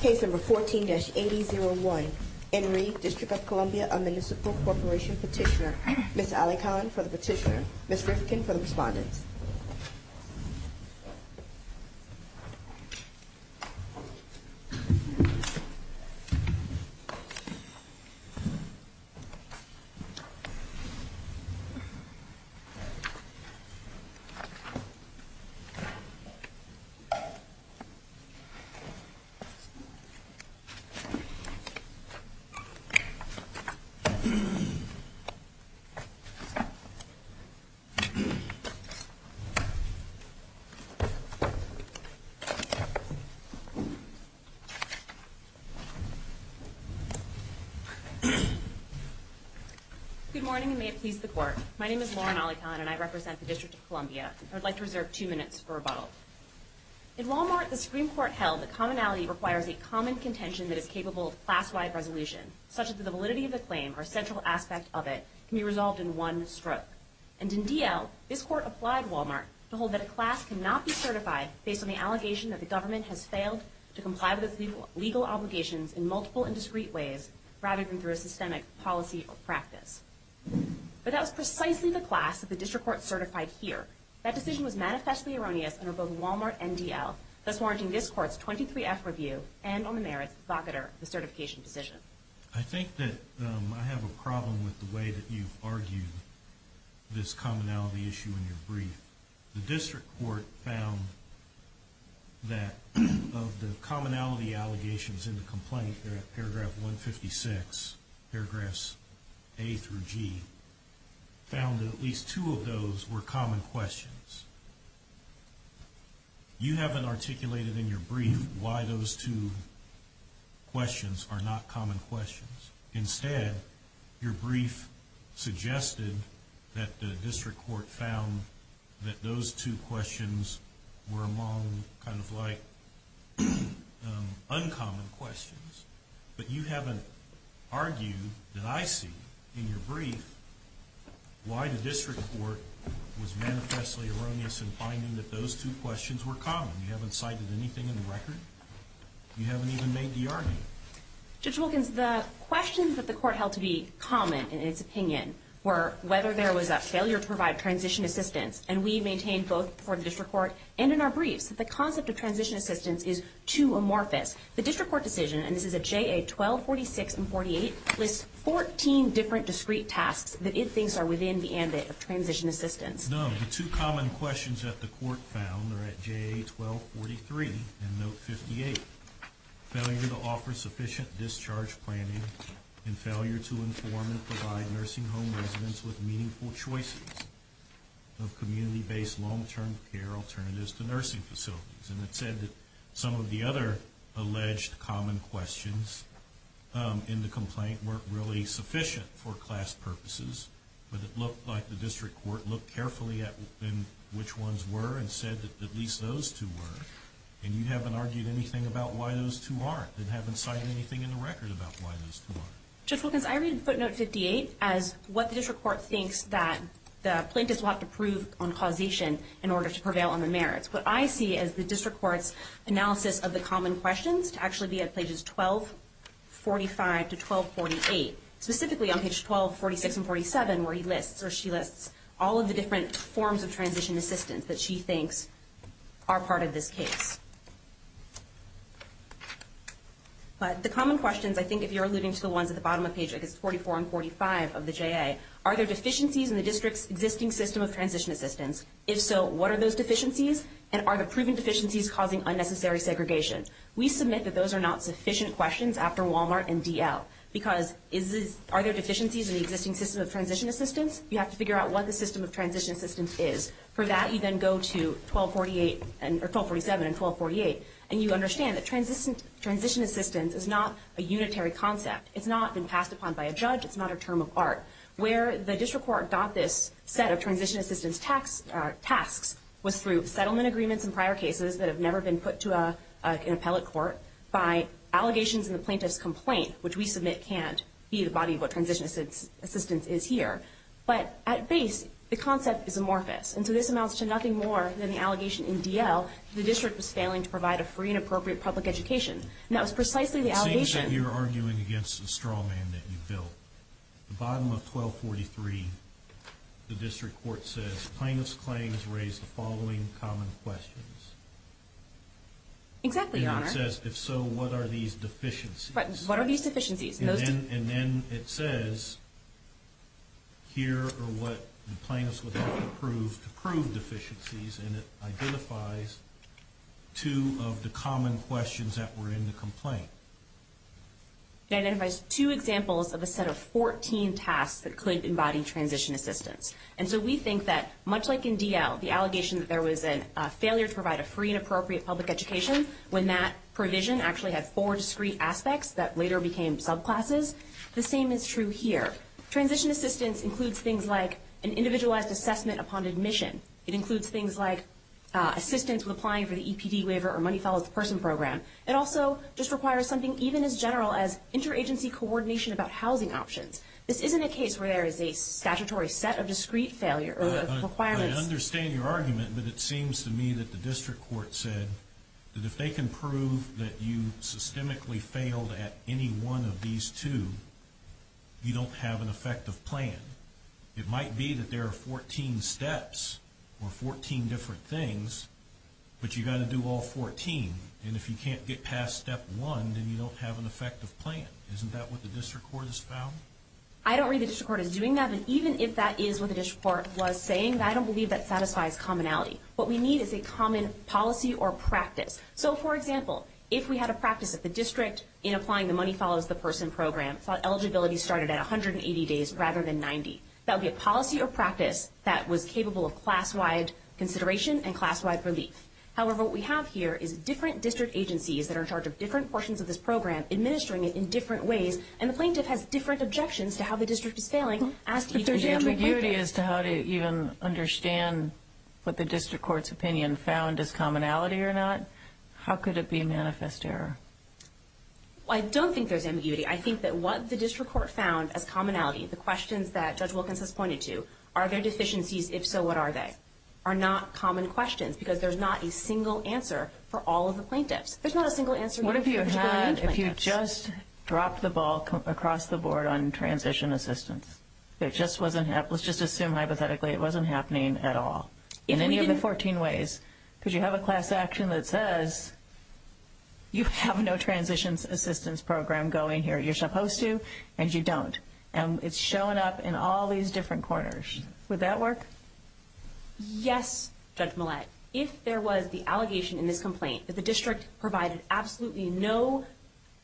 Case number 14-8001, Enrique, District of Columbia, a Municipal Corporation Petitioner. Ms. Ali Collin for the petitioner, Ms. Rifkin for the respondent. Good morning and may it please the Court. My name is Lauren Ali Collin and I represent the District of Columbia. I would like to reserve two minutes for rebuttal. In Wal-Mart, the Supreme Court held that commonality requires a common contention that is capable of class-wide resolution, such that the validity of the claim or central aspect of it can be resolved in one stroke. And in D.L., this Court applied Wal-Mart to hold that a class cannot be certified based on the allegation that the government has failed to comply with its legal obligations in multiple and discrete ways, rather than through a systemic policy or practice. But that was precisely the class that the District Court certified here. That decision was manifestly erroneous under both Wal-Mart and D.L., thus warranting this Court's 23-F review and, on the merits of the provocateur, the certification decision. I think that I have a problem with the way that you've argued this commonality issue in your brief. The District Court found that of the commonality allegations in the complaint, paragraph 156, paragraphs A through G, found that at least two of those were common questions. You haven't articulated in your brief why those two questions are not common questions. Instead, your brief suggested that the District Court found that those two questions were among kind of like uncommon questions. But you haven't argued that I see in your brief why the District Court was manifestly erroneous in finding that those two questions were common. You haven't cited anything in the record. You haven't even made the argument. Judge Wilkins, the questions that the Court held to be common in its opinion were whether there was a failure to provide transition assistance. And we maintain both before the District Court and in our briefs that the concept of transition assistance is too amorphous. The District Court decision, and this is at JA 1246 and 48, lists 14 different discrete tasks that it thinks are within the ambit of transition assistance. None. The two common questions that the Court found are at JA 1243 and note 58, failure to offer sufficient discharge planning and failure to inform and provide nursing home residents with meaningful choices of community-based long-term care alternatives to nursing facilities. And it said that some of the other alleged common questions in the complaint weren't really sufficient for class purposes. But it looked like the District Court looked carefully at which ones were and said that at least those two were. And you haven't argued anything about why those two aren't and haven't cited anything in the record about why those two aren't. Judge Wilkins, I read footnote 58 as what the District Court thinks that the plaintiffs will have to prove on causation in order to prevail on the merits. What I see is the District Court's analysis of the common questions to actually be at pages 1245 to 1248, specifically on pages 1246 and 47 where she lists all of the different forms of transition assistance that she thinks are part of this case. But the common questions, I think if you're alluding to the ones at the bottom of page 44 and 45 of the JA, are there deficiencies in the District's existing system of transition assistance? If so, what are those deficiencies? And are the proven deficiencies causing unnecessary segregation? We submit that those are not sufficient questions after Walmart and DL because are there deficiencies in the existing system of transition assistance? You have to figure out what the system of transition assistance is. For that, you then go to 1247 and 1248, and you understand that transition assistance is not a unitary concept. It's not been passed upon by a judge. It's not a term of art. Where the District Court got this set of transition assistance tasks was through settlement agreements and prior cases that have never been put to an appellate court by allegations in the plaintiff's complaint, which we submit can't be the body of what transition assistance is here. But at base, the concept is amorphous. And so this amounts to nothing more than the allegation in DL that the District was failing to provide a free and appropriate public education. And that was precisely the allegation. It seems that you're arguing against the straw man that you built. The bottom of 1243, the District Court says, Plaintiff's claims raise the following common questions. Exactly, Your Honor. And it says, if so, what are these deficiencies? What are these deficiencies? And then it says, here are what the plaintiffs would like to prove deficiencies, and it identifies two of the common questions that were in the complaint. It identifies two examples of a set of 14 tasks that could embody transition assistance. And so we think that, much like in DL, the allegation that there was a failure to provide a free and appropriate public education, when that provision actually had four discrete aspects that later became subclasses, the same is true here. Transition assistance includes things like an individualized assessment upon admission. It includes things like assistance with applying for the EPD waiver or money follows the person program. It also just requires something even as general as interagency coordination about housing options. This isn't a case where there is a statutory set of discrete requirements. I understand your argument, but it seems to me that the district court said that if they can prove that you systemically failed at any one of these two, you don't have an effective plan. It might be that there are 14 steps or 14 different things, but you've got to do all 14. And if you can't get past step one, then you don't have an effective plan. Isn't that what the district court has found? I don't read the district court as doing that, but even if that is what the district court was saying, I don't believe that satisfies commonality. What we need is a common policy or practice. So, for example, if we had a practice at the district in applying the money follows the person program, thought eligibility started at 180 days rather than 90, that would be a policy or practice that was capable of class-wide consideration and class-wide relief. However, what we have here is different district agencies that are in charge of different portions of this program, administering it in different ways, and the plaintiff has different objections to how the district is failing. But there's ambiguity as to how to even understand what the district court's opinion found as commonality or not. How could it be manifest error? I don't think there's ambiguity. I think that what the district court found as commonality, the questions that Judge Wilkins has pointed to, are there deficiencies? If so, what are they? Are not common questions because there's not a single answer for all of the plaintiffs. There's not a single answer for any plaintiffs. And if you just dropped the ball across the board on transition assistance, let's just assume hypothetically it wasn't happening at all in any of the 14 ways, because you have a class action that says you have no transition assistance program going here. You're supposed to, and you don't. And it's showing up in all these different corners. Would that work? Yes, Judge Millett. If there was the allegation in this complaint that the district provided absolutely no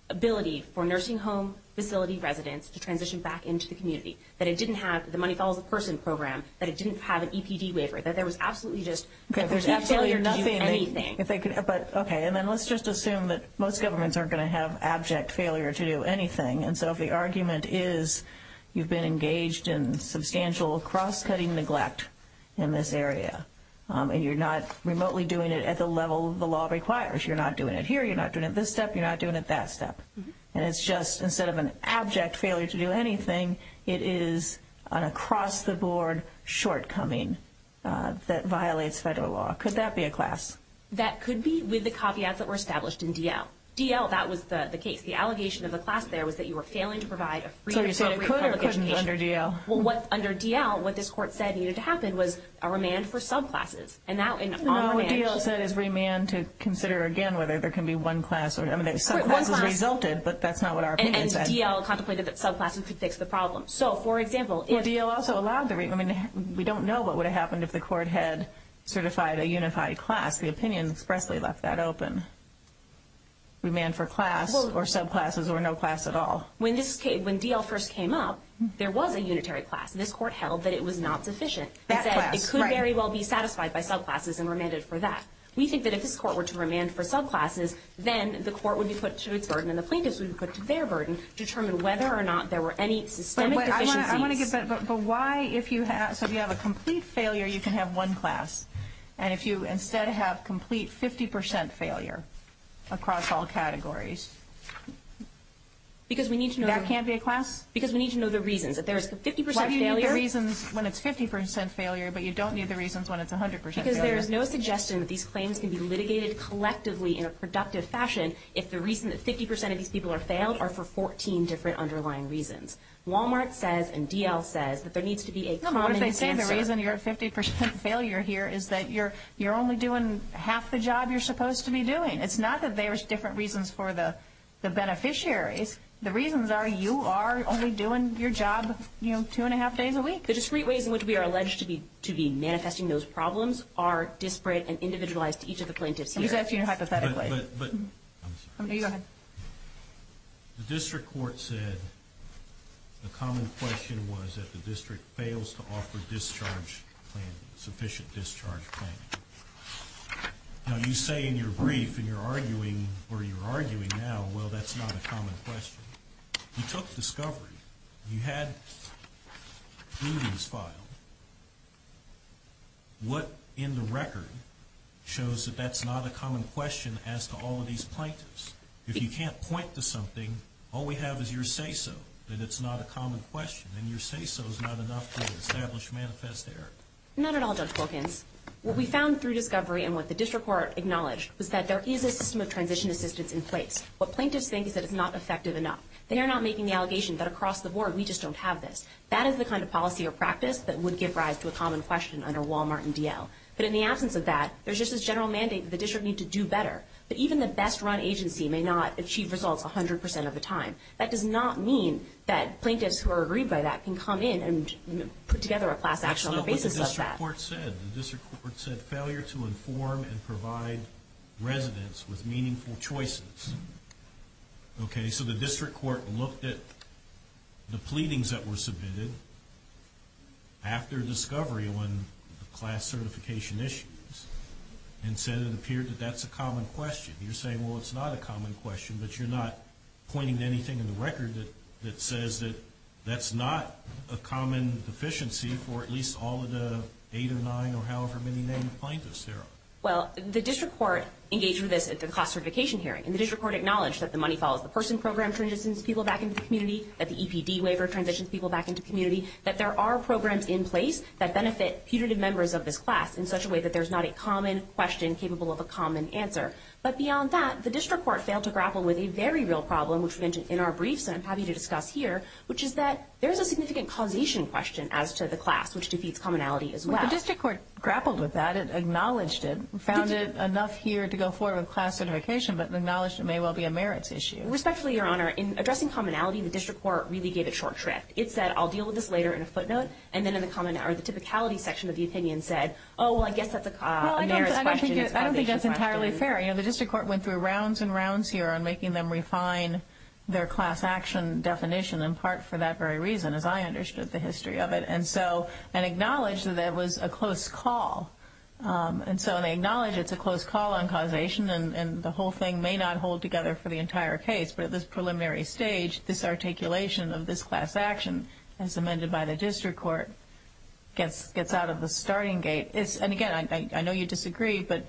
ability for nursing home facility residents to transition back into the community, that it didn't have the Money Follows a Person program, that it didn't have an EPD waiver, that there was absolutely just complete failure to do anything. Okay. And then let's just assume that most governments aren't going to have abject failure to do anything. And so if the argument is you've been engaged in substantial cross-cutting neglect in this area and you're not remotely doing it at the level the law requires. You're not doing it here. You're not doing it this step. You're not doing it that step. And it's just instead of an abject failure to do anything, it is an across-the-board shortcoming that violates federal law. Could that be a class? That could be with the copyouts that were established in DL. DL, that was the case. The allegation of the class there was that you were failing to provide a free and appropriate public education. So you said it could or couldn't under DL? Well, under DL, what this court said needed to happen was a remand for subclasses. And that was an arm's reach. No, what DL said is remand to consider again whether there can be one class. I mean, subclasses resulted, but that's not what our opinion is at. And DL contemplated that subclasses could fix the problem. So, for example, if... Well, DL also allowed the remand. We don't know what would have happened if the court had certified a unified class. The opinion expressly left that open. Remand for class or subclasses or no class at all. When DL first came up, there was a unitary class. This court held that it was not sufficient. It said it could very well be satisfied by subclasses and remanded for that. We think that if this court were to remand for subclasses, then the court would be put to its burden and the plaintiffs would be put to their burden to determine whether or not there were any systemic deficiencies. But why if you have... So if you have a complete failure, you can have one class. And if you instead have complete 50% failure across all categories? Because we need to know... That can't be a class? Because we need to know the reasons. If there is 50% failure... Why do you need the reasons when it's 50% failure, but you don't need the reasons when it's 100% failure? Because there is no suggestion that these claims can be litigated collectively in a productive fashion if the reason that 50% of these people are failed are for 14 different underlying reasons. Walmart says and DL says that there needs to be a common answer. What if they say the reason you're at 50% failure here is that you're only doing half the job you're supposed to be doing. It's not that there's different reasons for the beneficiaries. The reasons are you are only doing your job, you know, two and a half days a week. The discrete ways in which we are alleged to be manifesting those problems are disparate and individualized to each of the plaintiffs here. I'm just asking you hypothetically. But... I'm sorry. No, you go ahead. The district court said the common question was that the district fails to offer discharge planning, sufficient discharge planning. Now, you say in your brief, and you're arguing, or you're arguing now, well, that's not a common question. You took discovery. You had prudence filed. What in the record shows that that's not a common question as to all of these plaintiffs? If you can't point to something, all we have is your say-so, that it's not a common question, and your say-so is not enough to establish manifest error. Not at all, Judge Wilkins. What we found through discovery and what the district court acknowledged was that there is a system of transition assistance in place. What plaintiffs think is that it's not effective enough. They are not making the allegation that across the board we just don't have this. That is the kind of policy or practice that would give rise to a common question under Walmart and DL. But in the absence of that, there's just this general mandate that the district need to do better. But even the best-run agency may not achieve results 100% of the time. That does not mean that plaintiffs who are aggrieved by that can come in and put together a class action on the basis of that. The district court said failure to inform and provide residents with meaningful choices. So the district court looked at the pleadings that were submitted after discovery when the class certification issues and said it appeared that that's a common question. You're saying, well, it's not a common question, but you're not pointing to anything in the record that says that that's not a common deficiency for at least all of the eight or nine or however many named plaintiffs here. Well, the district court engaged with this at the class certification hearing. And the district court acknowledged that the money follows the person program that transitions people back into the community, that the EPD waiver transitions people back into the community, that there are programs in place that benefit putative members of this class in such a way that there's not a common question capable of a common answer. But beyond that, the district court failed to grapple with a very real problem, which we mentioned in our briefs and I'm happy to discuss here, which is that there is a significant causation question as to the class, which defeats commonality as well. Well, the district court grappled with that. It acknowledged it, found it enough here to go forward with class certification, but acknowledged it may well be a merits issue. Respectfully, Your Honor, in addressing commonality, the district court really gave it short shrift. It said, I'll deal with this later in a footnote. And then the typicality section of the opinion said, oh, well, I guess that's a merits question. I don't think that's entirely fair. The district court went through rounds and rounds here on making them refine their class action definition in part for that very reason, as I understood the history of it, and acknowledged that that was a close call. And so they acknowledge it's a close call on causation and the whole thing may not hold together for the entire case, but at this preliminary stage, this articulation of this class action, as amended by the district court, gets out of the starting gate. And, again, I know you disagree, but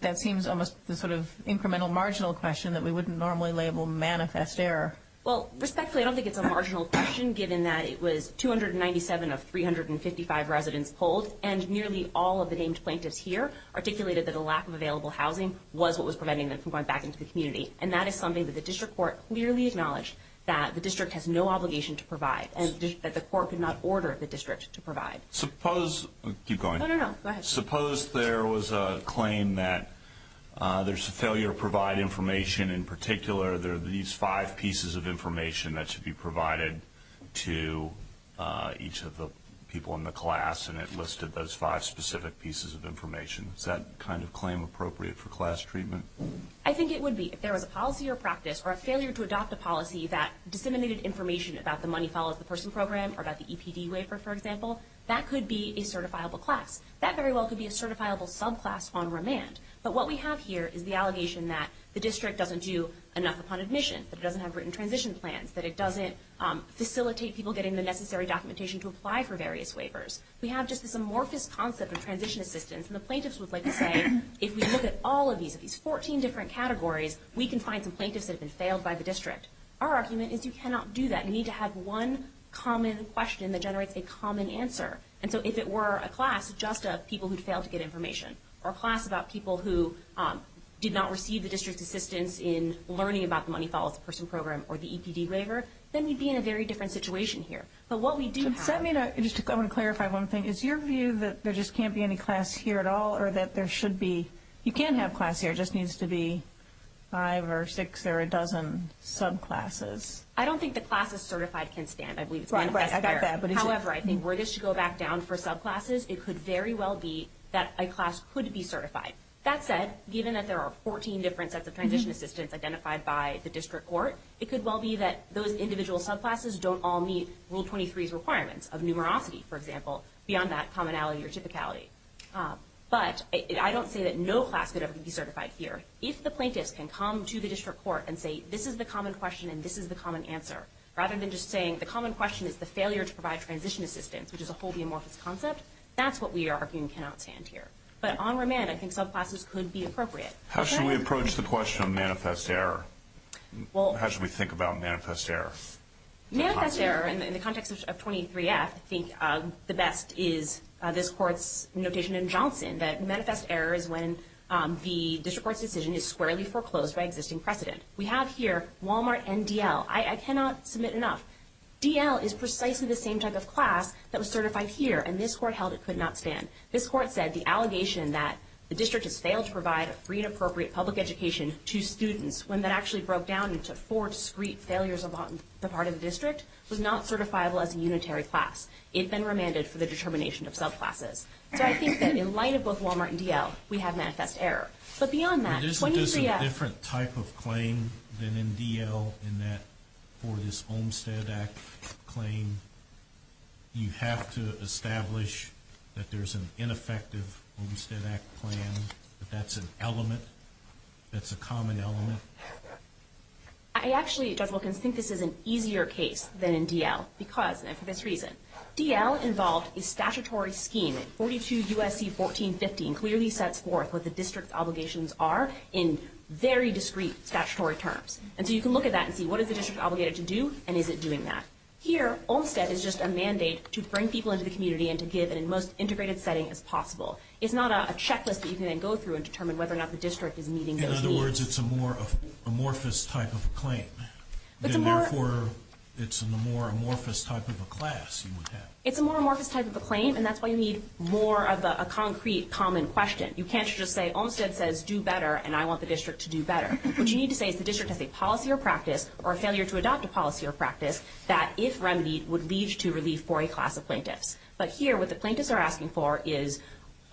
that seems almost the sort of incremental marginal question that we wouldn't normally label manifest error. Well, respectfully, I don't think it's a marginal question, given that it was 297 of 355 residents pulled and nearly all of the named plaintiffs here articulated that the lack of available housing was what was preventing them from going back into the community. And that is something that the district court clearly acknowledged, that the district has no obligation to provide, and that the court could not order the district to provide. Suppose there was a claim that there's a failure to provide information in particular, there are these five pieces of information that should be provided to each of the people in the class, and it listed those five specific pieces of information. Is that kind of claim appropriate for class treatment? I think it would be. If there was a policy or practice or a failure to adopt a policy that disseminated information about the money follows the person program or about the EPD waiver, for example, that could be a certifiable class. That very well could be a certifiable subclass on remand. But what we have here is the allegation that the district doesn't do enough upon admission, that it doesn't have written transition plans, that it doesn't facilitate people getting the necessary documentation to apply for various waivers. We have just this amorphous concept of transition assistance, and the plaintiffs would like to say if we look at all of these, at these 14 different categories, we can find some plaintiffs that have been failed by the district. Our argument is you cannot do that. You need to have one common question that generates a common answer. And so if it were a class just of people who failed to get information or a class about people who did not receive the district's assistance in learning about the money follows the person program or the EPD waiver, then we'd be in a very different situation here. But what we do have – Just to clarify one thing, is your view that there just can't be any class here at all or that there should be – you can have class here. It just needs to be five or six or a dozen subclasses. I don't think the classes certified can stand. I believe it's been assessed there. Right, I got that. However, I think were this to go back down for subclasses, it could very well be that a class could be certified. That said, given that there are 14 different sets of transition assistance identified by the district court, it could well be that those individual subclasses don't all meet Rule 23's requirements of numerosity, for example, beyond that commonality or typicality. But I don't say that no class could ever be certified here. If the plaintiffs can come to the district court and say, this is the common question and this is the common answer, rather than just saying the common question is the failure to provide transition assistance, which is a wholly amorphous concept, that's what we are arguing cannot stand here. But on remand, I think subclasses could be appropriate. How should we approach the question of manifest error? How should we think about manifest error? Manifest error in the context of 23F, I think the best is this Court's notation in Johnson that manifest error is when the district court's decision is squarely foreclosed by existing precedent. We have here Walmart and DL. I cannot submit enough. DL is precisely the same type of class that was certified here, and this Court held it could not stand. This Court said the allegation that the district has failed to provide a free and appropriate public education to students when that actually broke down into four discreet failures upon the part of the district was not certifiable as a unitary class. It had been remanded for the determination of subclasses. So I think that in light of both Walmart and DL, we have manifest error. Isn't this a different type of claim than in DL in that for this Olmstead Act claim, you have to establish that there's an ineffective Olmstead Act plan, that that's an element, that's a common element? I actually, Judge Wilkins, think this is an easier case than in DL because, and for this reason, DL involved a statutory scheme. 42 U.S.C. 1415 clearly sets forth what the district's obligations are in very discreet statutory terms. And so you can look at that and see what is the district obligated to do, and is it doing that? Here, Olmstead is just a mandate to bring people into the community and to give in the most integrated setting as possible. It's not a checklist that you can then go through and determine whether or not the district is meeting those needs. In other words, it's a more amorphous type of a claim. And therefore, it's a more amorphous type of a class you would have. It's a more amorphous type of a claim, and that's why you need more of a concrete, common question. You can't just say Olmstead says do better, and I want the district to do better. What you need to say is the district has a policy or practice, or a failure to adopt a policy or practice, that, if remedied, would lead to relief for a class of plaintiffs. But here, what the plaintiffs are asking for is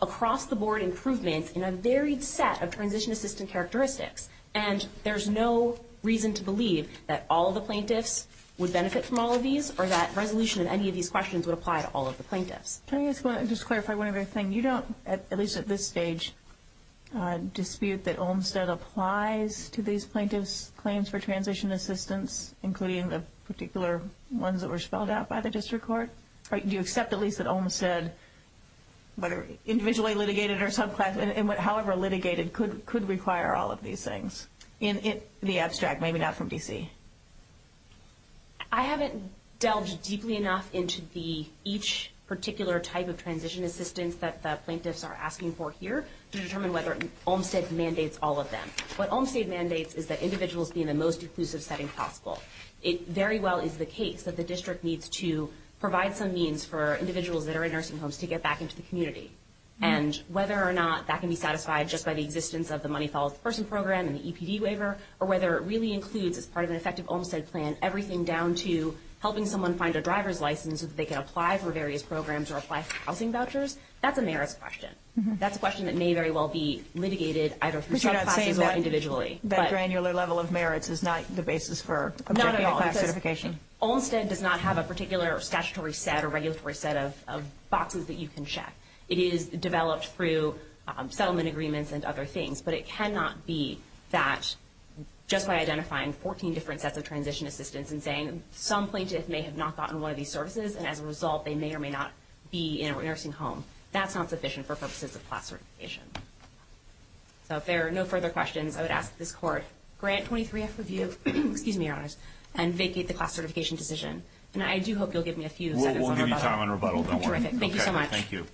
across-the-board improvements in a varied set of transition-assistant characteristics. And there's no reason to believe that all of the plaintiffs would benefit from all of these or that resolution of any of these questions would apply to all of the plaintiffs. Can I just clarify one other thing? You don't, at least at this stage, dispute that Olmstead applies to these plaintiffs' claims for transition assistance, including the particular ones that were spelled out by the district court? Do you accept, at least, that Olmstead, whether individually litigated or however litigated, could require all of these things in the abstract, maybe not from D.C.? I haven't delved deeply enough into each particular type of transition assistance that the plaintiffs are asking for here to determine whether Olmstead mandates all of them. What Olmstead mandates is that individuals be in the most inclusive setting possible. It very well is the case that the district needs to provide some means for individuals that are in nursing homes to get back into the community. And whether or not that can be satisfied just by the existence of the Money Follows the Person program and the EPD waiver, or whether it really includes, as part of an effective Olmstead plan, everything down to helping someone find a driver's license so that they can apply for various programs or apply for housing vouchers, that's a merits question. That's a question that may very well be litigated either through subclasses or individually. But you're not saying that granular level of merits is not the basis for objecting a class certification? Not at all, because Olmstead does not have a particular statutory set or regulatory set of boxes that you can check. It is developed through settlement agreements and other things. But it cannot be that just by identifying 14 different sets of transition assistance and saying some plaintiff may have not gotten one of these services, and as a result they may or may not be in a nursing home, that's not sufficient for purposes of class certification. So if there are no further questions, I would ask that this Court grant 23F review and vacate the class certification decision. And I do hope you'll give me a few seconds on rebuttal. Terrific. Thank you so much. Thank you.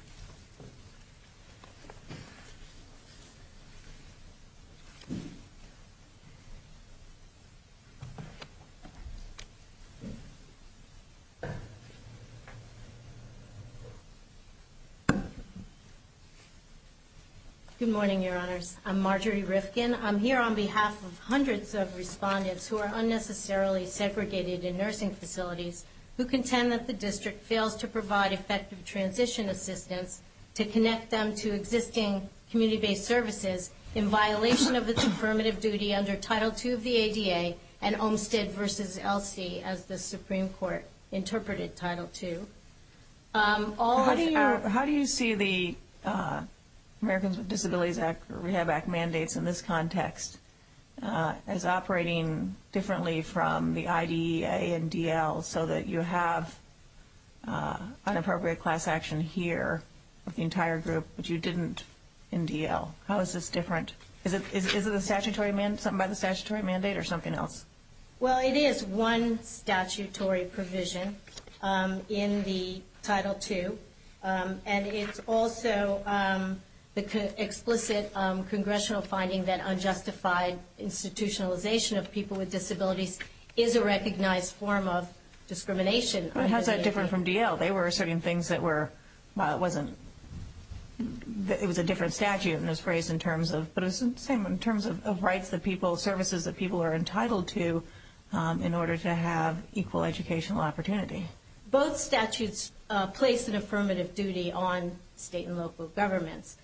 Good morning, Your Honors. I'm Marjorie Rifkin. I'm here on behalf of hundreds of respondents who are unnecessarily segregated in nursing facilities who contend that the District fails to provide effective transition assistance to connect them to existing community-based services in violation of its affirmative duty under Title II of the ADA and Olmstead v. Elsie as the Supreme Court interpreted Title II. How do you see the Americans with Disabilities Act or Rehab Act mandates in this context as operating differently from the IDEA and DL so that you have an appropriate class action here with the entire group, but you didn't in DL? How is this different? Is it something by the statutory mandate or something else? Well, it is one statutory provision in the Title II, and it's also the explicit congressional finding that unjustified institutionalization of people with disabilities is a recognized form of discrimination. How is that different from DL? They were asserting things that were, it was a different statute, but it was the same in terms of rights that people, services that people are entitled to in order to have equal educational opportunity. Both statutes place an affirmative duty on state and local governments.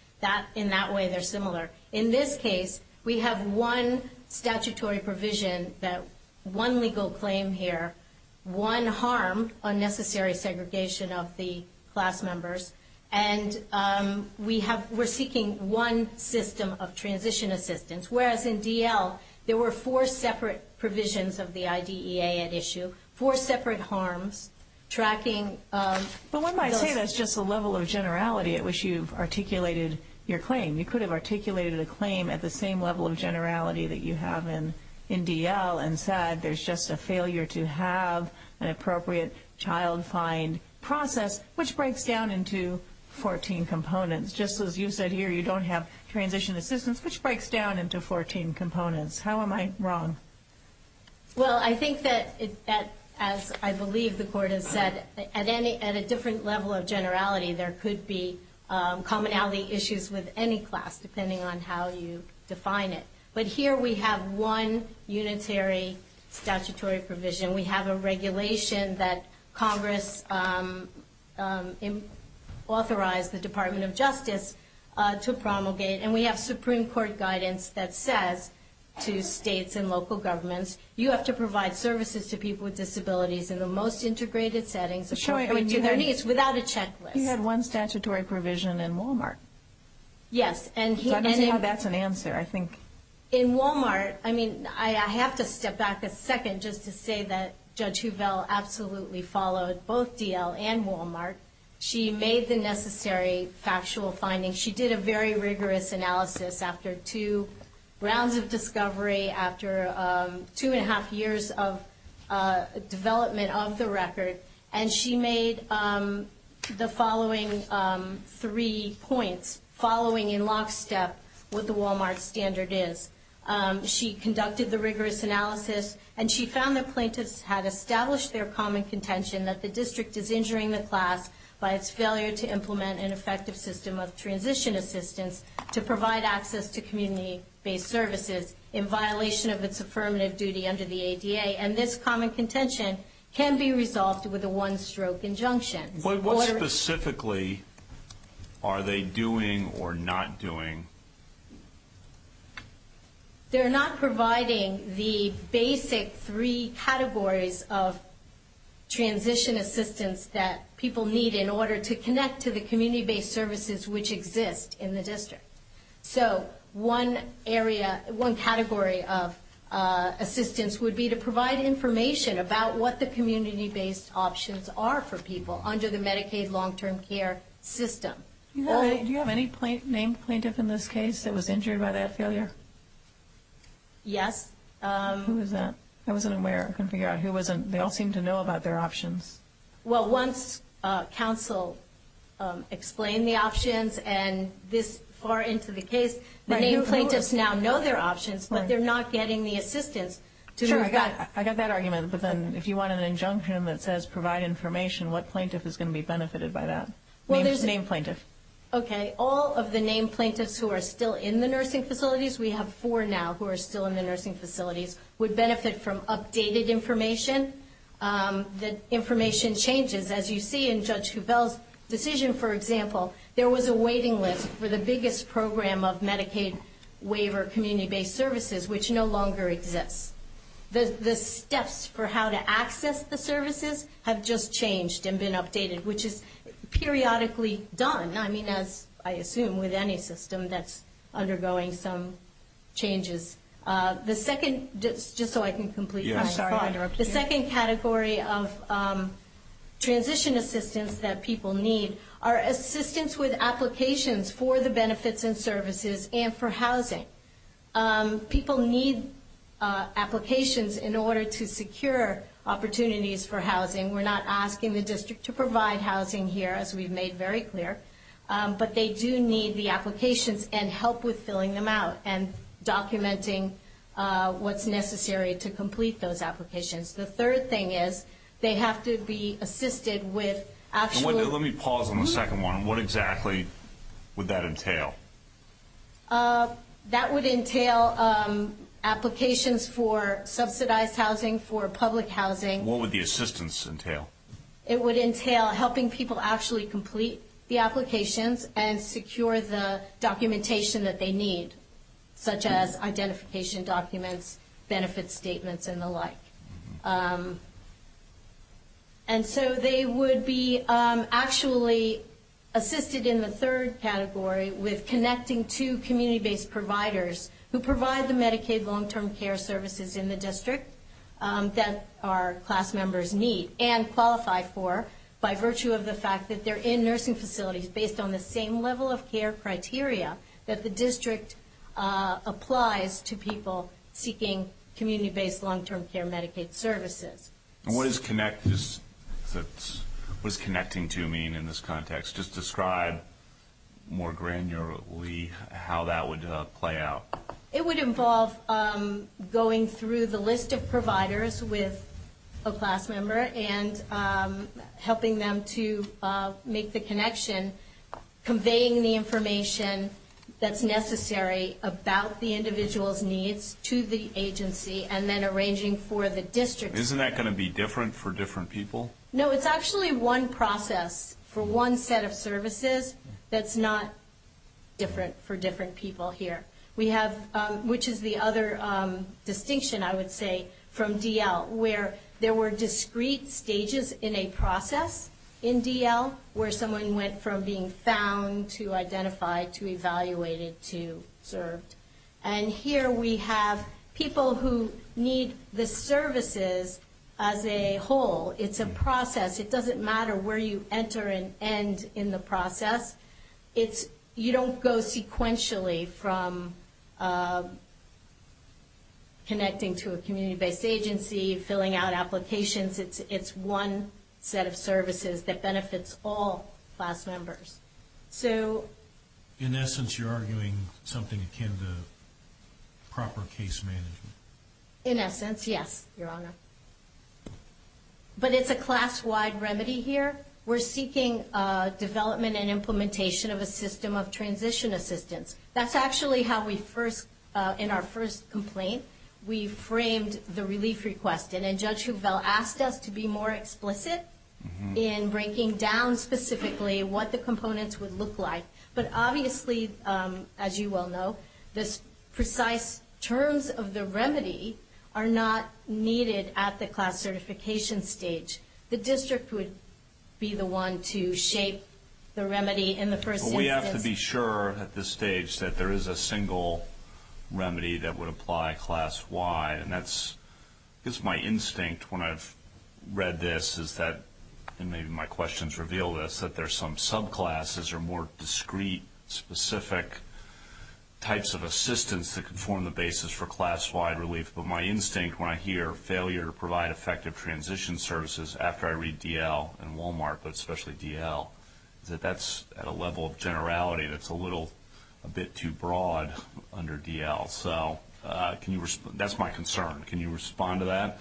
In that way, they're similar. In this case, we have one statutory provision, one legal claim here, one harm, unnecessary segregation of the class members, and we're seeking one system of transition assistance, whereas in DL, there were four separate provisions of the IDEA at issue, four separate harms, tracking of those. But wouldn't I say that's just a level of generality at which you've articulated your claim? You could have articulated a claim at the same level of generality that you have in DL and said there's just a failure to have an appropriate child find process, which breaks down into 14 components. Just as you said here, you don't have transition assistance, which breaks down into 14 components. How am I wrong? Well, I think that, as I believe the Court has said, at a different level of generality, there could be commonality issues with any class, depending on how you define it. But here we have one unitary statutory provision. We have a regulation that Congress authorized the Department of Justice to promulgate, and we have Supreme Court guidance that says to states and local governments, you have to provide services to people with disabilities in the most integrated settings according to their needs without a checklist. You had one statutory provision in Walmart. Yes. So I don't know how that's an answer, I think. In Walmart, I mean, I have to step back a second just to say that Judge Huvell absolutely followed both DL and Walmart. She made the necessary factual findings. She did a very rigorous analysis after two rounds of discovery, after two and a half years of development of the record, and she made the following three points, following in lockstep what the Walmart standard is. She conducted the rigorous analysis, and she found that plaintiffs had established their common contention and effective system of transition assistance to provide access to community-based services in violation of its affirmative duty under the ADA, and this common contention can be resolved with a one-stroke injunction. But what specifically are they doing or not doing? They're not providing the basic three categories of transition assistance that people need in order to connect to the community-based services which exist in the district. So one category of assistance would be to provide information about what the community-based options are for people under the Medicaid long-term care system. Do you have any named plaintiff in this case that was injured by that failure? Yes. Who was that? I wasn't aware. I couldn't figure out who it was. They all seemed to know about their options. Well, once counsel explained the options and this far into the case, the named plaintiffs now know their options, but they're not getting the assistance. Sure, I got that argument. But then if you want an injunction that says provide information, what plaintiff is going to be benefited by that? Well, there's a named plaintiff. Okay. All of the named plaintiffs who are still in the nursing facilities, we have four now who are still in the nursing facilities, would benefit from updated information. The information changes. As you see in Judge Coupelle's decision, for example, there was a waiting list for the biggest program of Medicaid waiver community-based services, which no longer exists. The steps for how to access the services have just changed and been updated, which is periodically done. I mean, as I assume with any system that's undergoing some changes. Just so I can complete my thought. I'm sorry if I interrupted you. The second category of transition assistance that people need are assistance with applications for the benefits and services and for housing. People need applications in order to secure opportunities for housing. We're not asking the district to provide housing here, as we've made very clear, but they do need the applications and help with filling them out and documenting what's necessary to complete those applications. The third thing is they have to be assisted with actual. Let me pause on the second one. What exactly would that entail? That would entail applications for subsidized housing, for public housing. What would the assistance entail? It would entail helping people actually complete the applications and secure the documentation that they need, such as identification documents, benefit statements, and the like. And so they would be actually assisted in the third category with connecting to community-based providers who provide the Medicaid long-term care services in the district that our class members need and qualify for by virtue of the fact that they're in nursing facilities based on the same level of care criteria that the district applies to people seeking community-based long-term care Medicaid services. And what does connecting to mean in this context? Just describe more granularly how that would play out. It would involve going through the list of providers with a class member and helping them to make the connection, conveying the information that's necessary about the individual's needs to the agency, and then arranging for the district. Isn't that going to be different for different people? No, it's actually one process for one set of services that's not different for different people here, which is the other distinction, I would say, from D.L., where there were discrete stages in a process in D.L. where someone went from being found to identified to evaluated to served. And here we have people who need the services as a whole. It's a process. It doesn't matter where you enter and end in the process. You don't go sequentially from connecting to a community-based agency, filling out applications. It's one set of services that benefits all class members. In essence, you're arguing something akin to proper case management. In essence, yes, Your Honor. But it's a class-wide remedy here. We're seeking development and implementation of a system of transition assistance. That's actually how we first, in our first complaint, we framed the relief request. And then Judge Hufveld asked us to be more explicit in breaking down specifically what the components would look like. But obviously, as you well know, the precise terms of the remedy are not needed at the class certification stage. The district would be the one to shape the remedy in the first instance. But we have to be sure at this stage that there is a single remedy that would apply class-wide. I guess my instinct when I've read this is that, and maybe my questions reveal this, that there's some subclasses or more discrete, specific types of assistance that can form the basis for class-wide relief. But my instinct when I hear failure to provide effective transition services after I read D.L. and Walmart, but especially D.L., is that that's at a level of generality that's a little bit too broad under D.L. So that's my concern. Can you respond to that?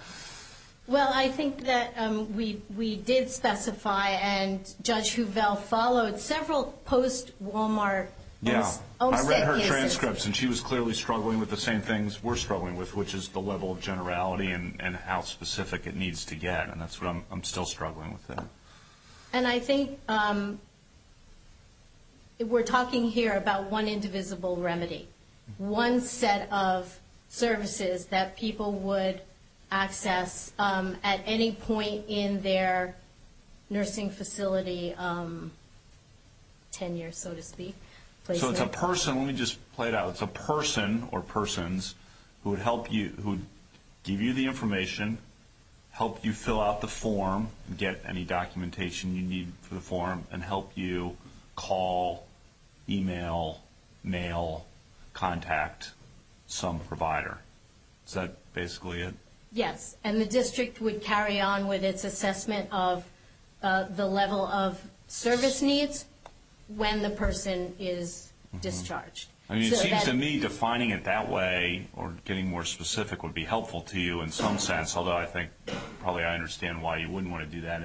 Well, I think that we did specify, and Judge Hufveld followed several post-Walmart. Yeah. I read her transcripts, and she was clearly struggling with the same things we're struggling with, which is the level of generality and how specific it needs to get. And that's what I'm still struggling with there. And I think we're talking here about one indivisible remedy, one set of services that people would access at any point in their nursing facility tenure, so to speak. So it's a person. Let me just play it out. It's a person or persons who would help you, who would give you the information, help you fill out the form, get any documentation you need for the form, and help you call, email, mail, contact some provider. Is that basically it? Yes. And the district would carry on with its assessment of the level of service needs when the person is discharged. I mean, it seems to me defining it that way or getting more specific would be helpful to you in some sense, although I think probably I understand why you wouldn't want to do that.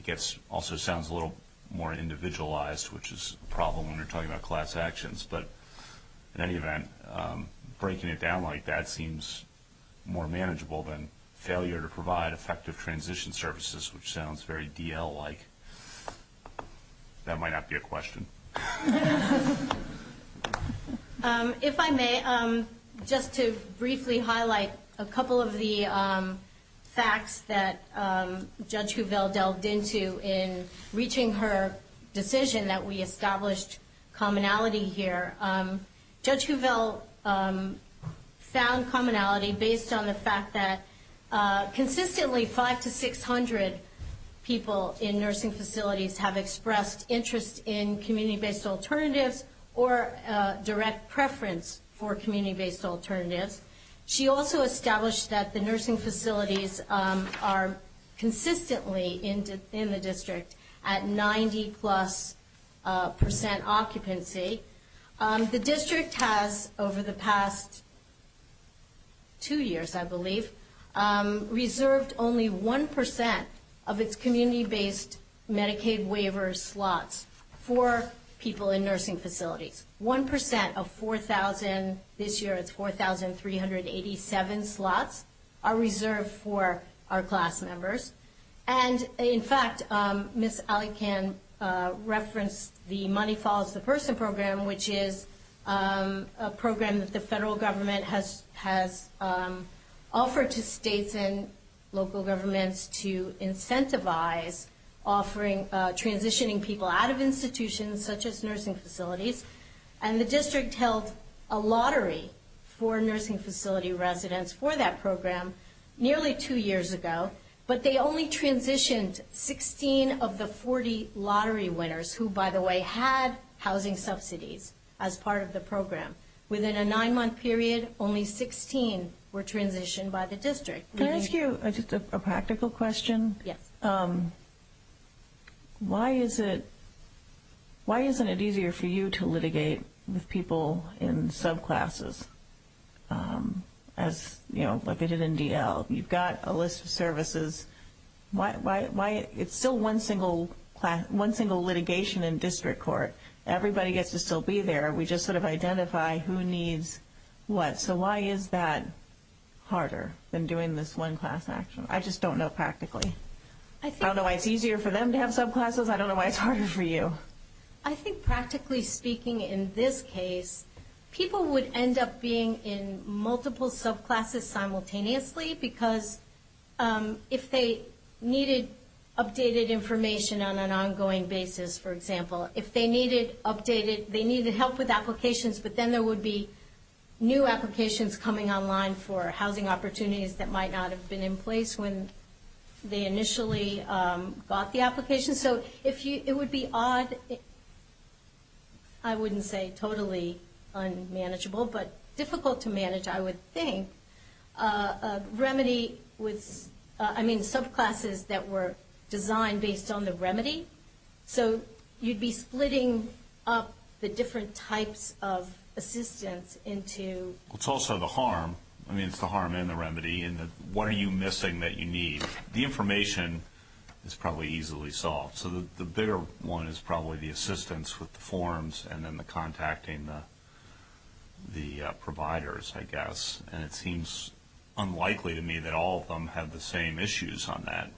It also sounds a little more individualized, which is a problem when you're talking about class actions. But in any event, breaking it down like that seems more manageable than failure to provide effective transition services, which sounds very DL-like. That might not be a question. If I may, just to briefly highlight a couple of the facts that Judge Huvel delved into in reaching her decision that we established commonality here. Judge Huvel found commonality based on the fact that consistently 500 to 600 people in nursing facilities have expressed interest in community-based alternatives or direct preference for community-based alternatives. She also established that the nursing facilities are consistently in the district at 90-plus percent occupancy. The district has, over the past two years, I believe, reserved only 1% of its community-based Medicaid waiver slots for people in nursing facilities. 1% of 4,000, this year it's 4,387 slots, are reserved for our class members. In fact, Ms. Alleycan referenced the Money Follows the Person program, which is a program that the federal government has offered to states and local governments to incentivize transitioning people out of institutions such as nursing facilities. And the district held a lottery for nursing facility residents for that program nearly two years ago, but they only transitioned 16 of the 40 lottery winners who, by the way, had housing subsidies as part of the program. Within a nine-month period, only 16 were transitioned by the district. Can I ask you just a practical question? Yes. Why isn't it easier for you to litigate with people in subclasses, like they did in DL? You've got a list of services. It's still one single litigation in district court. Everybody gets to still be there. We just sort of identify who needs what. So why is that harder than doing this one-class action? I just don't know practically. I don't know why it's easier for them to have subclasses. I don't know why it's harder for you. I think practically speaking in this case, people would end up being in multiple subclasses simultaneously because if they needed updated information on an ongoing basis, for example, if they needed updated, they needed help with applications, but then there would be new applications coming online for housing opportunities that might not have been in place when they initially got the application. So it would be odd, I wouldn't say totally unmanageable, but difficult to manage, I would think. Remedy was, I mean, subclasses that were designed based on the remedy. So you'd be splitting up the different types of assistance into... It's also the harm. I mean, it's the harm and the remedy and the what are you missing that you need. The information is probably easily solved. So the bigger one is probably the assistance with the forms and then the contacting the providers, I guess. And it seems unlikely to me that all of them have the same issues on that,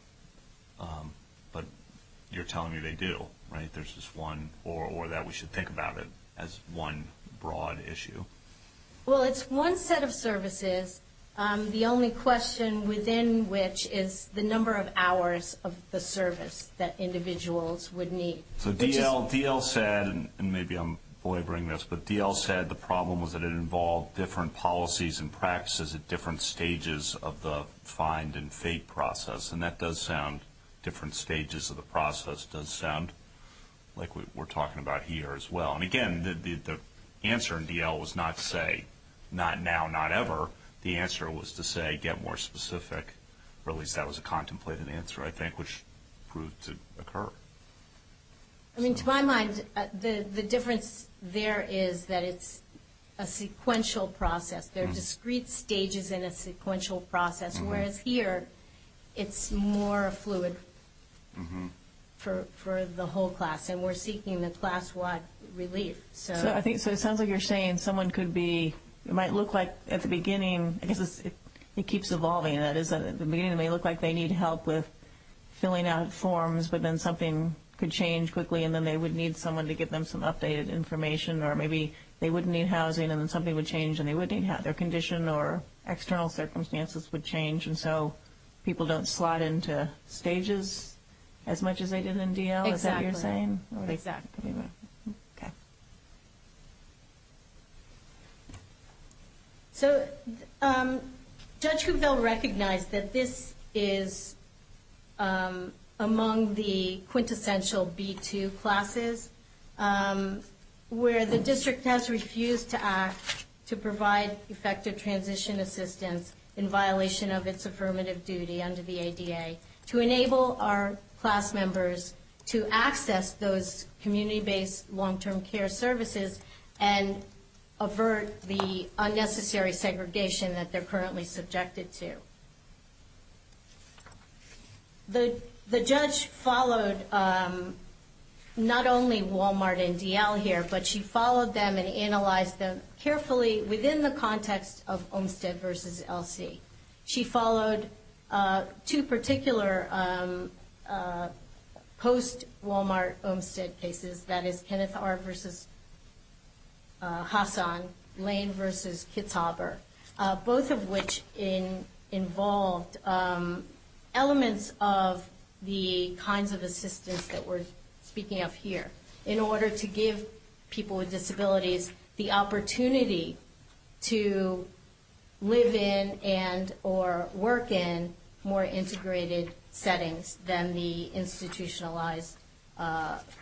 but you're telling me they do, right? There's just one or that we should think about it as one broad issue. Well, it's one set of services. The only question within which is the number of hours of the service that individuals would need. So D.L. said, and maybe I'm belaboring this, but D.L. said the problem was that it involved different policies and practices at different stages of the find and fake process. And that does sound, different stages of the process does sound like we're talking about here as well. And, again, the answer in D.L. was not say not now, not ever. The answer was to say get more specific, or at least that was a contemplated answer, I think, which proved to occur. I mean, to my mind, the difference there is that it's a sequential process. There are discrete stages in a sequential process, whereas here it's more fluid for the whole class. And we're seeking the class-wide relief. So it sounds like you're saying someone could be, it might look like at the beginning, I guess it keeps evolving, that is, at the beginning it may look like they need help with filling out forms, but then something could change quickly and then they would need someone to give them some updated information, or maybe they wouldn't need housing and then something would change and they wouldn't need housing. Their condition or external circumstances would change, and so people don't slot into stages as much as they did in D.L.? Exactly. Is that what you're saying? Exactly. Okay. Thank you. So Judge Kupfel recognized that this is among the quintessential B2 classes, where the district has refused to act to provide effective transition assistance in violation of its affirmative duty under the ADA to enable our class members to access those community-based long-term care services and avert the unnecessary segregation that they're currently subjected to. The judge followed not only Walmart and D.L. here, but she followed them and analyzed them carefully within the context of Olmstead v. L.C. She followed two particular post-Walmart Olmstead cases, that is Kenneth R. v. Hassan, Lane v. Kitzhaber, both of which involved elements of the kinds of assistance that we're speaking of here in order to give people with disabilities the opportunity to live in and or work in more integrated settings than the institutionalized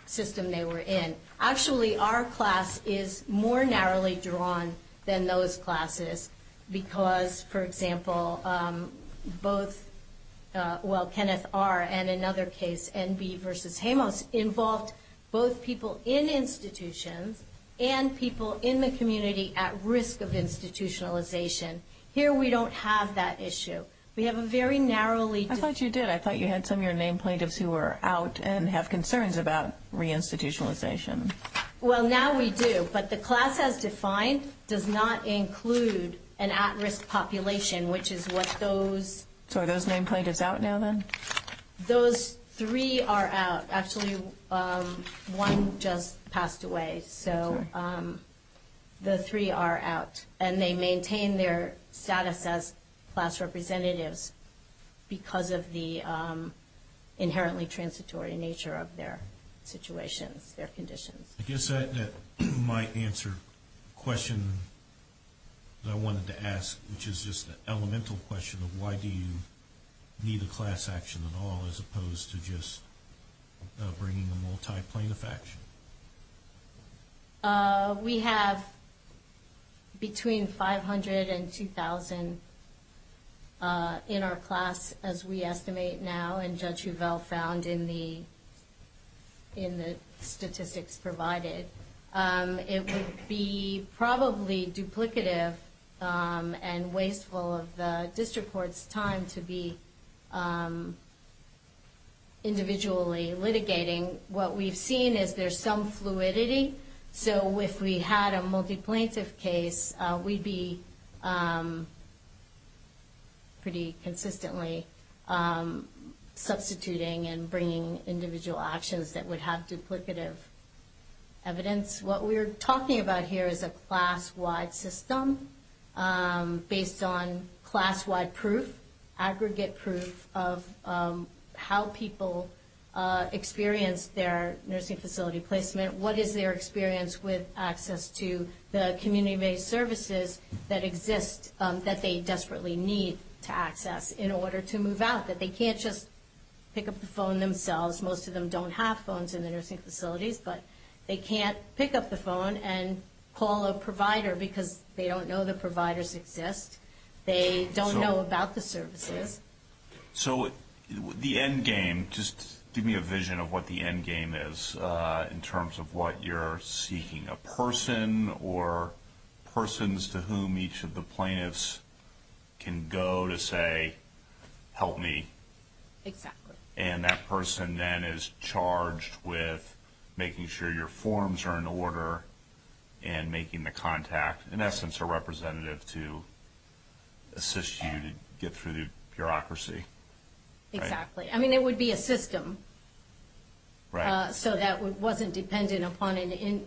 system they were in. Actually, our class is more narrowly drawn than those classes because, for example, both Kenneth R. and another case, N.B. v. Jamos, involved both people in institutions and people in the community at risk of institutionalization. Here we don't have that issue. We have a very narrowly- I thought you did. I thought you had some of your named plaintiffs who were out and have concerns about reinstitutionalization. Well, now we do, but the class as defined does not include an at-risk population, which is what those- Those three are out. Actually, one just passed away, so the three are out, and they maintain their status as class representatives because of the inherently transitory nature of their situations, their conditions. I guess that might answer a question that I wanted to ask, which is just an elemental question of why do you need a class action at all as opposed to just bringing a multi-plaintiff action. We have between 500 and 2,000 in our class, as we estimate now, and Judge Huvel found in the statistics provided. It would be probably duplicative and wasteful of the district court's time to be individually litigating. What we've seen is there's some fluidity, so if we had a multi-plaintiff case, we'd be pretty consistently substituting and bringing individual actions that would have duplicative evidence. What we're talking about here is a class-wide system based on class-wide proof, aggregate proof of how people experience their nursing facility placement, what is their experience with access to the community-based services that exist, that they desperately need to access in order to move out, that they can't just pick up the phone themselves. Most of them don't have phones in the nursing facilities, but they can't pick up the phone and call a provider because they don't know the providers exist. They don't know about the services. So the end game, just give me a vision of what the end game is in terms of what you're seeking, a person or persons to whom each of the plaintiffs can go to say, hey, help me. Exactly. And that person then is charged with making sure your forms are in order and making the contact, in essence, a representative to assist you to get through the bureaucracy. Exactly. I mean, it would be a system so that it wasn't dependent upon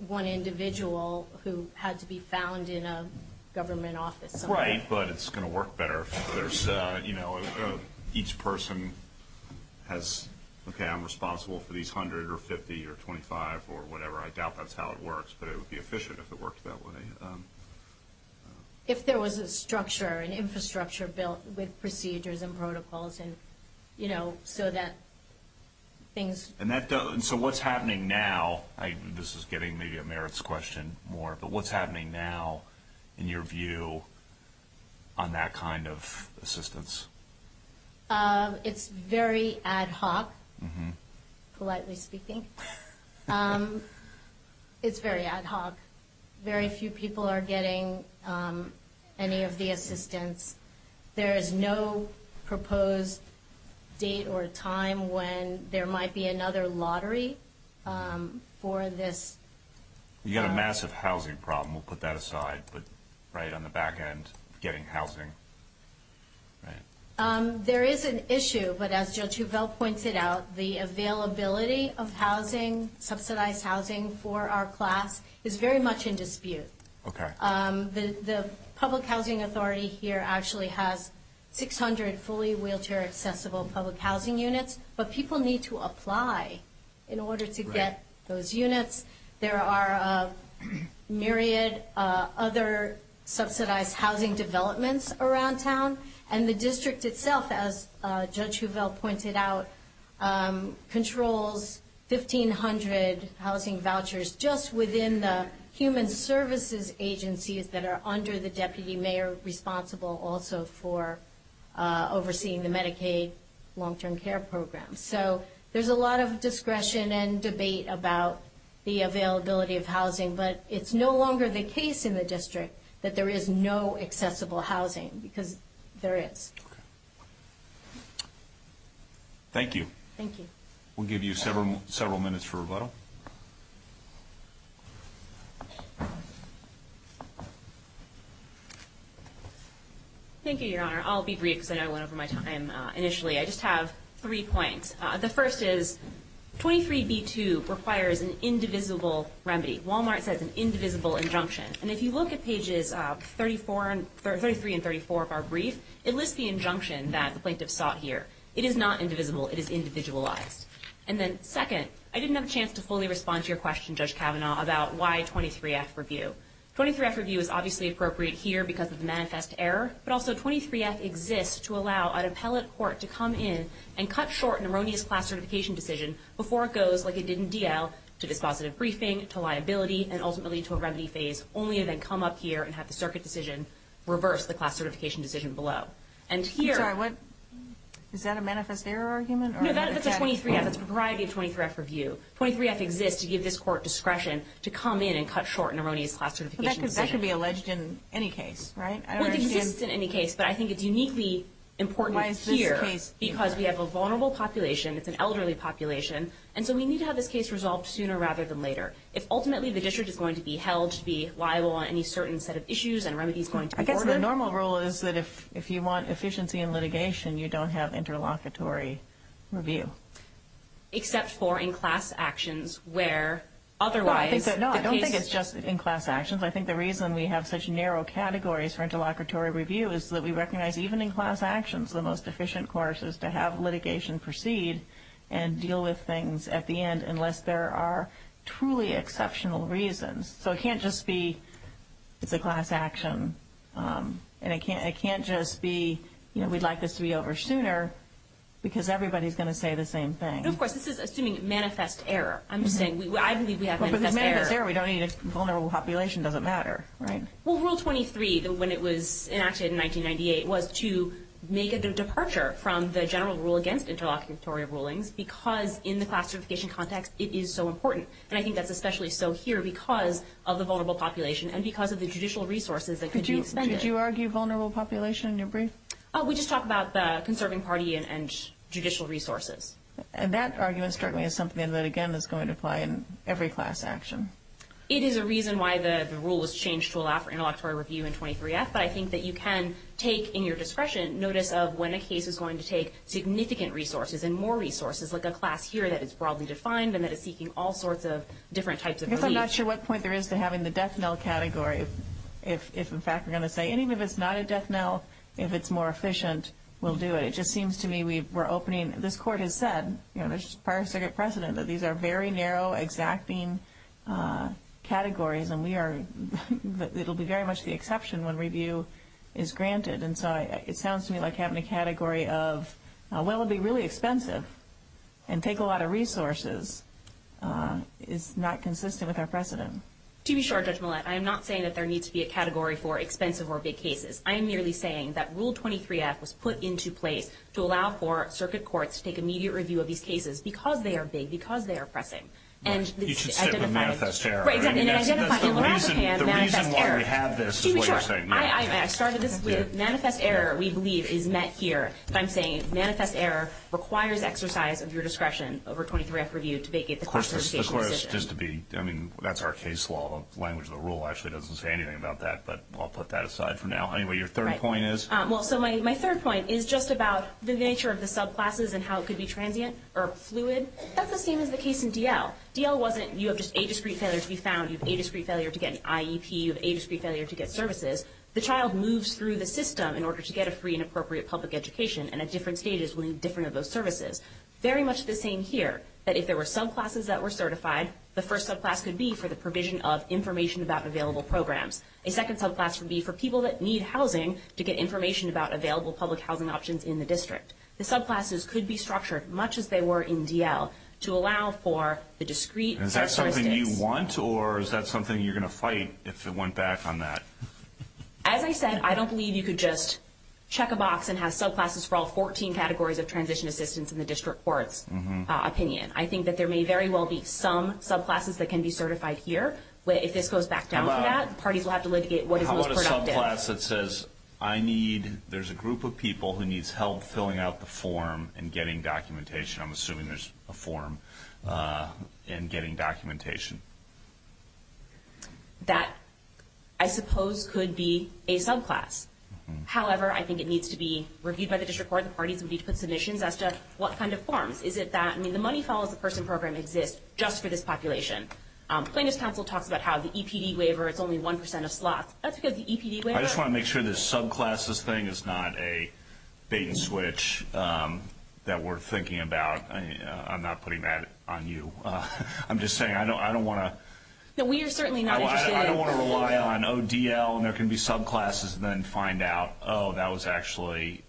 one individual who had to be found in a government office. Right, but it's going to work better if there's, you know, each person has, okay, I'm responsible for these 100 or 50 or 25 or whatever. I doubt that's how it works, but it would be efficient if it worked that way. If there was a structure, an infrastructure built with procedures and protocols and, you know, so that things... And so what's happening now, this is getting maybe a merits question more, but what's happening now in your view on that kind of assistance? It's very ad hoc, politely speaking. It's very ad hoc. Very few people are getting any of the assistance. There is no proposed date or time when there might be another lottery for this. You've got a massive housing problem. We'll put that aside, but right on the back end, getting housing. There is an issue, but as Judge Huvel pointed out, the availability of housing, subsidized housing, for our class is very much in dispute. The public housing authority here actually has 600 fully wheelchair accessible public housing units, but people need to apply in order to get those units. There are a myriad of other subsidized housing developments around town, and the district itself, as Judge Huvel pointed out, controls 1,500 housing vouchers just within the human services agencies that are under the deputy mayor responsible also for overseeing the Medicaid long-term care program. So there's a lot of discretion and debate about the availability of housing, but it's no longer the case in the district that there is no accessible housing because there is. Thank you. Thank you. We'll give you several minutes for rebuttal. Thank you, Your Honor. I'll be brief because I know I went over my time initially. I just have three points. The first is 23B2 requires an indivisible remedy. Walmart says an indivisible injunction, and if you look at pages 33 and 34 of our brief, it lists the injunction that the plaintiff sought here. It is not indivisible. It is individualized. And then second, I didn't have a chance to fully respond to your question, Judge Kavanaugh, about why 23F review. 23F review is obviously appropriate here because of the manifest error, but also 23F exists to allow an appellate court to come in and cut short an erroneous class certification decision before it goes, like it did in DL, to dispositive briefing, to liability, and ultimately to a remedy phase, only to then come up here and have the circuit decision reverse the class certification decision below. Is that a manifest error argument? No, that's a 23F. That's a variety of 23F review. 23F exists to give this court discretion to come in and cut short an erroneous class certification decision. That could be alleged in any case, right? Well, it exists in any case, but I think it's uniquely important here because we have a vulnerable population. It's an elderly population, and so we need to have this case resolved sooner rather than later. If ultimately the district is going to be held to be liable on any certain set of issues and remedies going to order. I guess the normal rule is that if you want efficiency in litigation, you don't have interlocutory review. Except for in class actions where otherwise the case. No, I don't think it's just in class actions. I think the reason we have such narrow categories for interlocutory review is that we recognize even in class actions, the most efficient course is to have litigation proceed and deal with things at the end unless there are truly exceptional reasons. So it can't just be it's a class action, and it can't just be we'd like this to be over sooner because everybody's going to say the same thing. Of course, this is assuming manifest error. I'm just saying, I believe we have manifest error. Well, if it's manifest error, we don't need a vulnerable population. It doesn't matter, right? Well, Rule 23, when it was enacted in 1998, was to make a departure from the general rule against interlocutory rulings because in the classification context, it is so important. And I think that's especially so here because of the vulnerable population and because of the judicial resources that could be expended. Did you argue vulnerable population in your brief? We just talked about the conserving party and judicial resources. And that argument struck me as something that, again, is going to apply in every class action. It is a reason why the rule was changed to allow for interlocutory review in 23F, but I think that you can take in your discretion notice of when a case is going to take significant resources and more resources, like a class here that is broadly defined and that is seeking all sorts of different types of relief. I guess I'm not sure what point there is to having the death knell category. If, in fact, we're going to say, even if it's not a death knell, if it's more efficient, we'll do it. It just seems to me we're opening. This Court has said, you know, prior to second precedent, that these are very narrow exacting categories, and it will be very much the exception when review is granted. And so it sounds to me like having a category of, well, it would be really expensive and take a lot of resources is not consistent with our precedent. To be sure, Judge Millett, I am not saying that there needs to be a category for expensive or big cases. I am merely saying that Rule 23F was put into place to allow for circuit courts to take immediate review of these cases because they are big, because they are pressing. You should stick with manifest error. That's the reason why we have this is what you're saying. I started this with manifest error, we believe, is met here. But I'm saying manifest error requires exercise of your discretion over 23F review to vacate the classification decision. Of course, just to be, I mean, that's our case law. The language of the rule actually doesn't say anything about that, but I'll put that aside for now. Anyway, your third point is? Well, so my third point is just about the nature of the subclasses and how it could be transient or fluid. That's the same as the case in DL. DL wasn't you have just a discrete failure to be found, you have a discrete failure to get an IEP, you have a discrete failure to get services. The child moves through the system in order to get a free and appropriate public education and at different stages will need different of those services. Very much the same here, that if there were subclasses that were certified, the first subclass could be for the provision of information about available programs. A second subclass would be for people that need housing to get information about available public housing options in the district. The subclasses could be structured much as they were in DL to allow for the discrete characteristics. Is that something you want or is that something you're going to fight if it went back on that? As I said, I don't believe you could just check a box and have subclasses for all 14 categories of transition assistance in the district court's opinion. I think that there may very well be some subclasses that can be certified here. If this goes back down from that, parties will have to litigate what is most productive. How about a subclass that says I need, there's a group of people who needs help filling out the form and getting documentation. I'm assuming there's a form and getting documentation. That, I suppose, could be a subclass. However, I think it needs to be reviewed by the district court. The parties would need to put submissions as to what kind of forms. Is it that, I mean, the money follows the person program exists just for this population. Plaintiff's counsel talks about how the EPD waiver is only 1% of slots. That's because the EPD waiver. I just want to make sure this subclasses thing is not a bait and switch that we're thinking about. I'm not putting that on you. I'm just saying, I don't want to rely on ODL and there can be subclasses and then find out, oh, that was actually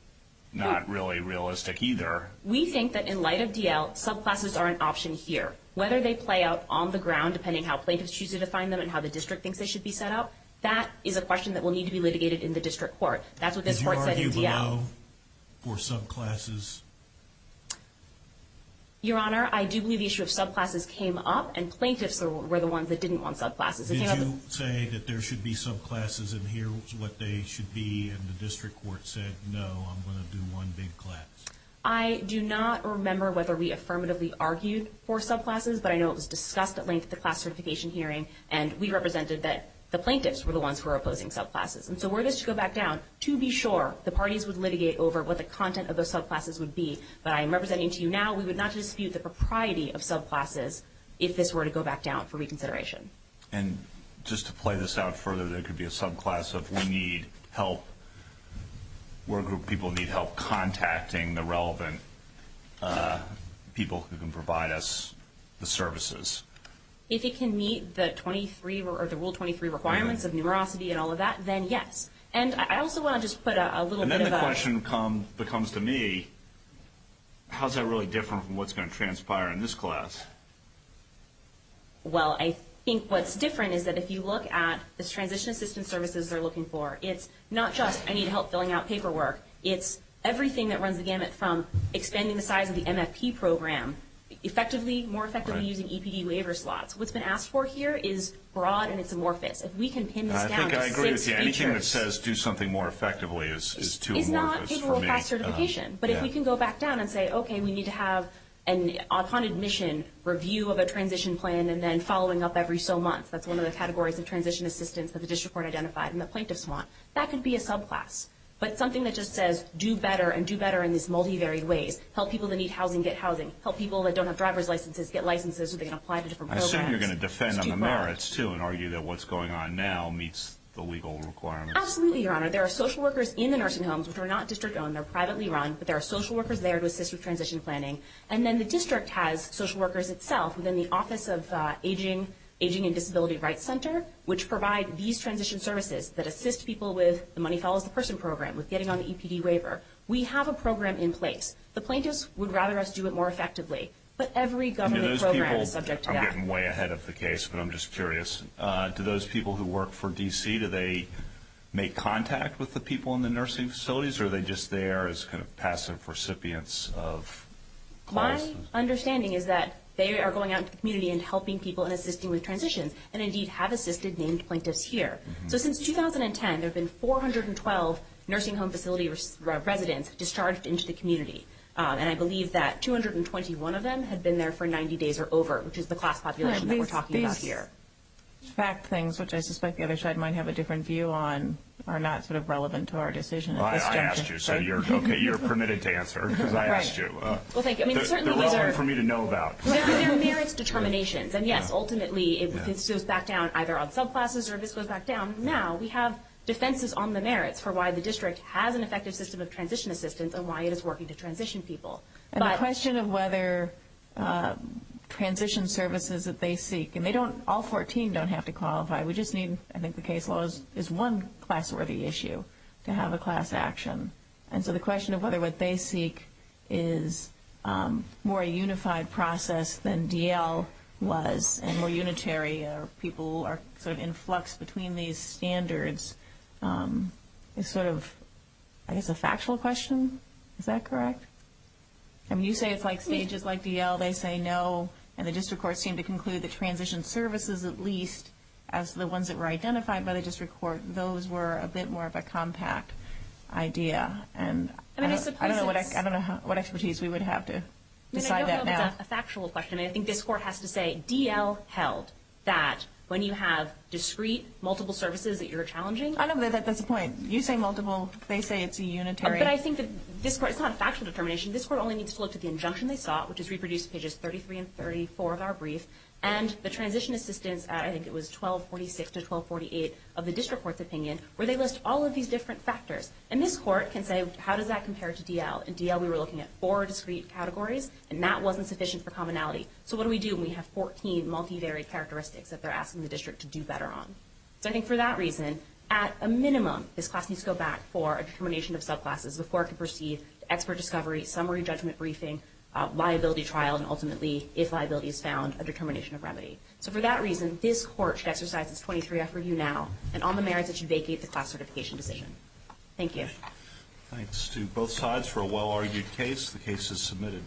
not really realistic either. We think that in light of DL, subclasses are an option here. Whether they play out on the ground, depending on how plaintiffs choose to define them and how the district thinks they should be set up. That is a question that will need to be litigated in the district court. That's what this court said in DL. Did you argue below for subclasses? Your Honor, I do believe the issue of subclasses came up and plaintiffs were the ones that didn't want subclasses. Did you say that there should be subclasses and here's what they should be and the district court said, no, I'm going to do one big class? I do not remember whether we affirmatively argued for subclasses, but I know it was discussed at length at the class certification hearing and we represented that the plaintiffs were the ones who were opposing subclasses. And so were this to go back down, to be sure, the parties would litigate over what the content of those subclasses would be. But I am representing to you now, we would not dispute the propriety of subclasses if this were to go back down for reconsideration. And just to play this out further, there could be a subclass of we need help. We're a group of people who need help contacting the relevant people who can provide us the services. If it can meet the Rule 23 requirements of numerosity and all of that, then yes. And I also want to just put a little bit of a... And then the question becomes to me, how is that really different from what's going to transpire in this class? Well, I think what's different is that if you look at the transition assistance services they're looking for, it's not just I need help filling out paperwork. It's everything that runs the gamut from expanding the size of the MFP program, effectively, more effectively using EPD waiver slots. What's been asked for here is broad and it's amorphous. If we can pin this down to six features... I think I agree with you. Anything that says do something more effectively is too amorphous for me. It's not paperwork-backed certification. But if we can go back down and say, okay, we need to have, upon admission, review of a transition plan and then following up every so month. That's one of the categories of transition assistance that the district court identified and the plaintiffs want. That could be a subclass. But something that just says do better and do better in these multivaried ways. Help people that need housing get housing. Help people that don't have driver's licenses get licenses so they can apply to different programs. I assume you're going to defend on the merits, too, and argue that what's going on now meets the legal requirements. Absolutely, Your Honor. There are social workers in the nursing homes which are not district-owned. They're privately run. But there are social workers there to assist with transition planning. And then the district has social workers itself within the Office of Aging and Disability Rights Center which provide these transition services that assist people with the Money Follows the Person program, with getting on the EPD waiver. We have a program in place. The plaintiffs would rather us do it more effectively. But every government program is subject to that. I'm getting way ahead of the case, but I'm just curious. To those people who work for D.C., do they make contact with the people in the nursing facilities or are they just there as kind of passive recipients of clients? My understanding is that they are going out into the community and helping people in assisting with transitions and, indeed, have assisted named plaintiffs here. So since 2010, there have been 412 nursing home facility residents discharged into the community, and I believe that 221 of them had been there for 90 days or over, which is the class population that we're talking about here. These fact things, which I suspect the other side might have a different view on, are not sort of relevant to our decision at this juncture. I asked you, so you're permitted to answer because I asked you. They're relevant for me to know about. There are merits determinations. And, yes, ultimately, if this goes back down either on subclasses or if this goes back down now, we have defenses on the merits for why the district has an effective system of transition assistance and why it is working to transition people. And the question of whether transition services that they seek, and all 14 don't have to qualify. I think the case law is one class-worthy issue to have a class action. And so the question of whether what they seek is more a unified process than D.L. was and more unitary, or people are sort of in flux between these standards, is sort of, I guess, a factual question. Is that correct? I mean, you say it's like stages like D.L. They say no, and the district courts seem to conclude that transition services, at least as the ones that were identified by the district court, those were a bit more of a compact idea. And I don't know what expertise we would have to decide that now. I don't know if it's a factual question. I think this court has to say D.L. held that when you have discrete, multiple services that you're challenging. I know that's the point. You say multiple. They say it's unitary. But I think that this court, it's not a factual determination. This court only needs to look at the injunction they sought, which is reproduced in pages 33 and 34 of our brief. And the transition assistance, I think it was 1246 to 1248, of the district court's opinion, where they list all of these different factors. And this court can say, how does that compare to D.L.? In D.L. we were looking at four discrete categories, and that wasn't sufficient for commonality. So what do we do when we have 14 multivariate characteristics that they're asking the district to do better on? So I think for that reason, at a minimum, this class needs to go back for a determination of subclasses before it can proceed to expert discovery, summary judgment briefing, liability trial, and ultimately, if liability is found, a determination of remedy. So for that reason, this court should exercise its 23-F review now, and on the merits, it should vacate the class certification decision. Thank you. Thanks to both sides for a well-argued case. The case is submitted.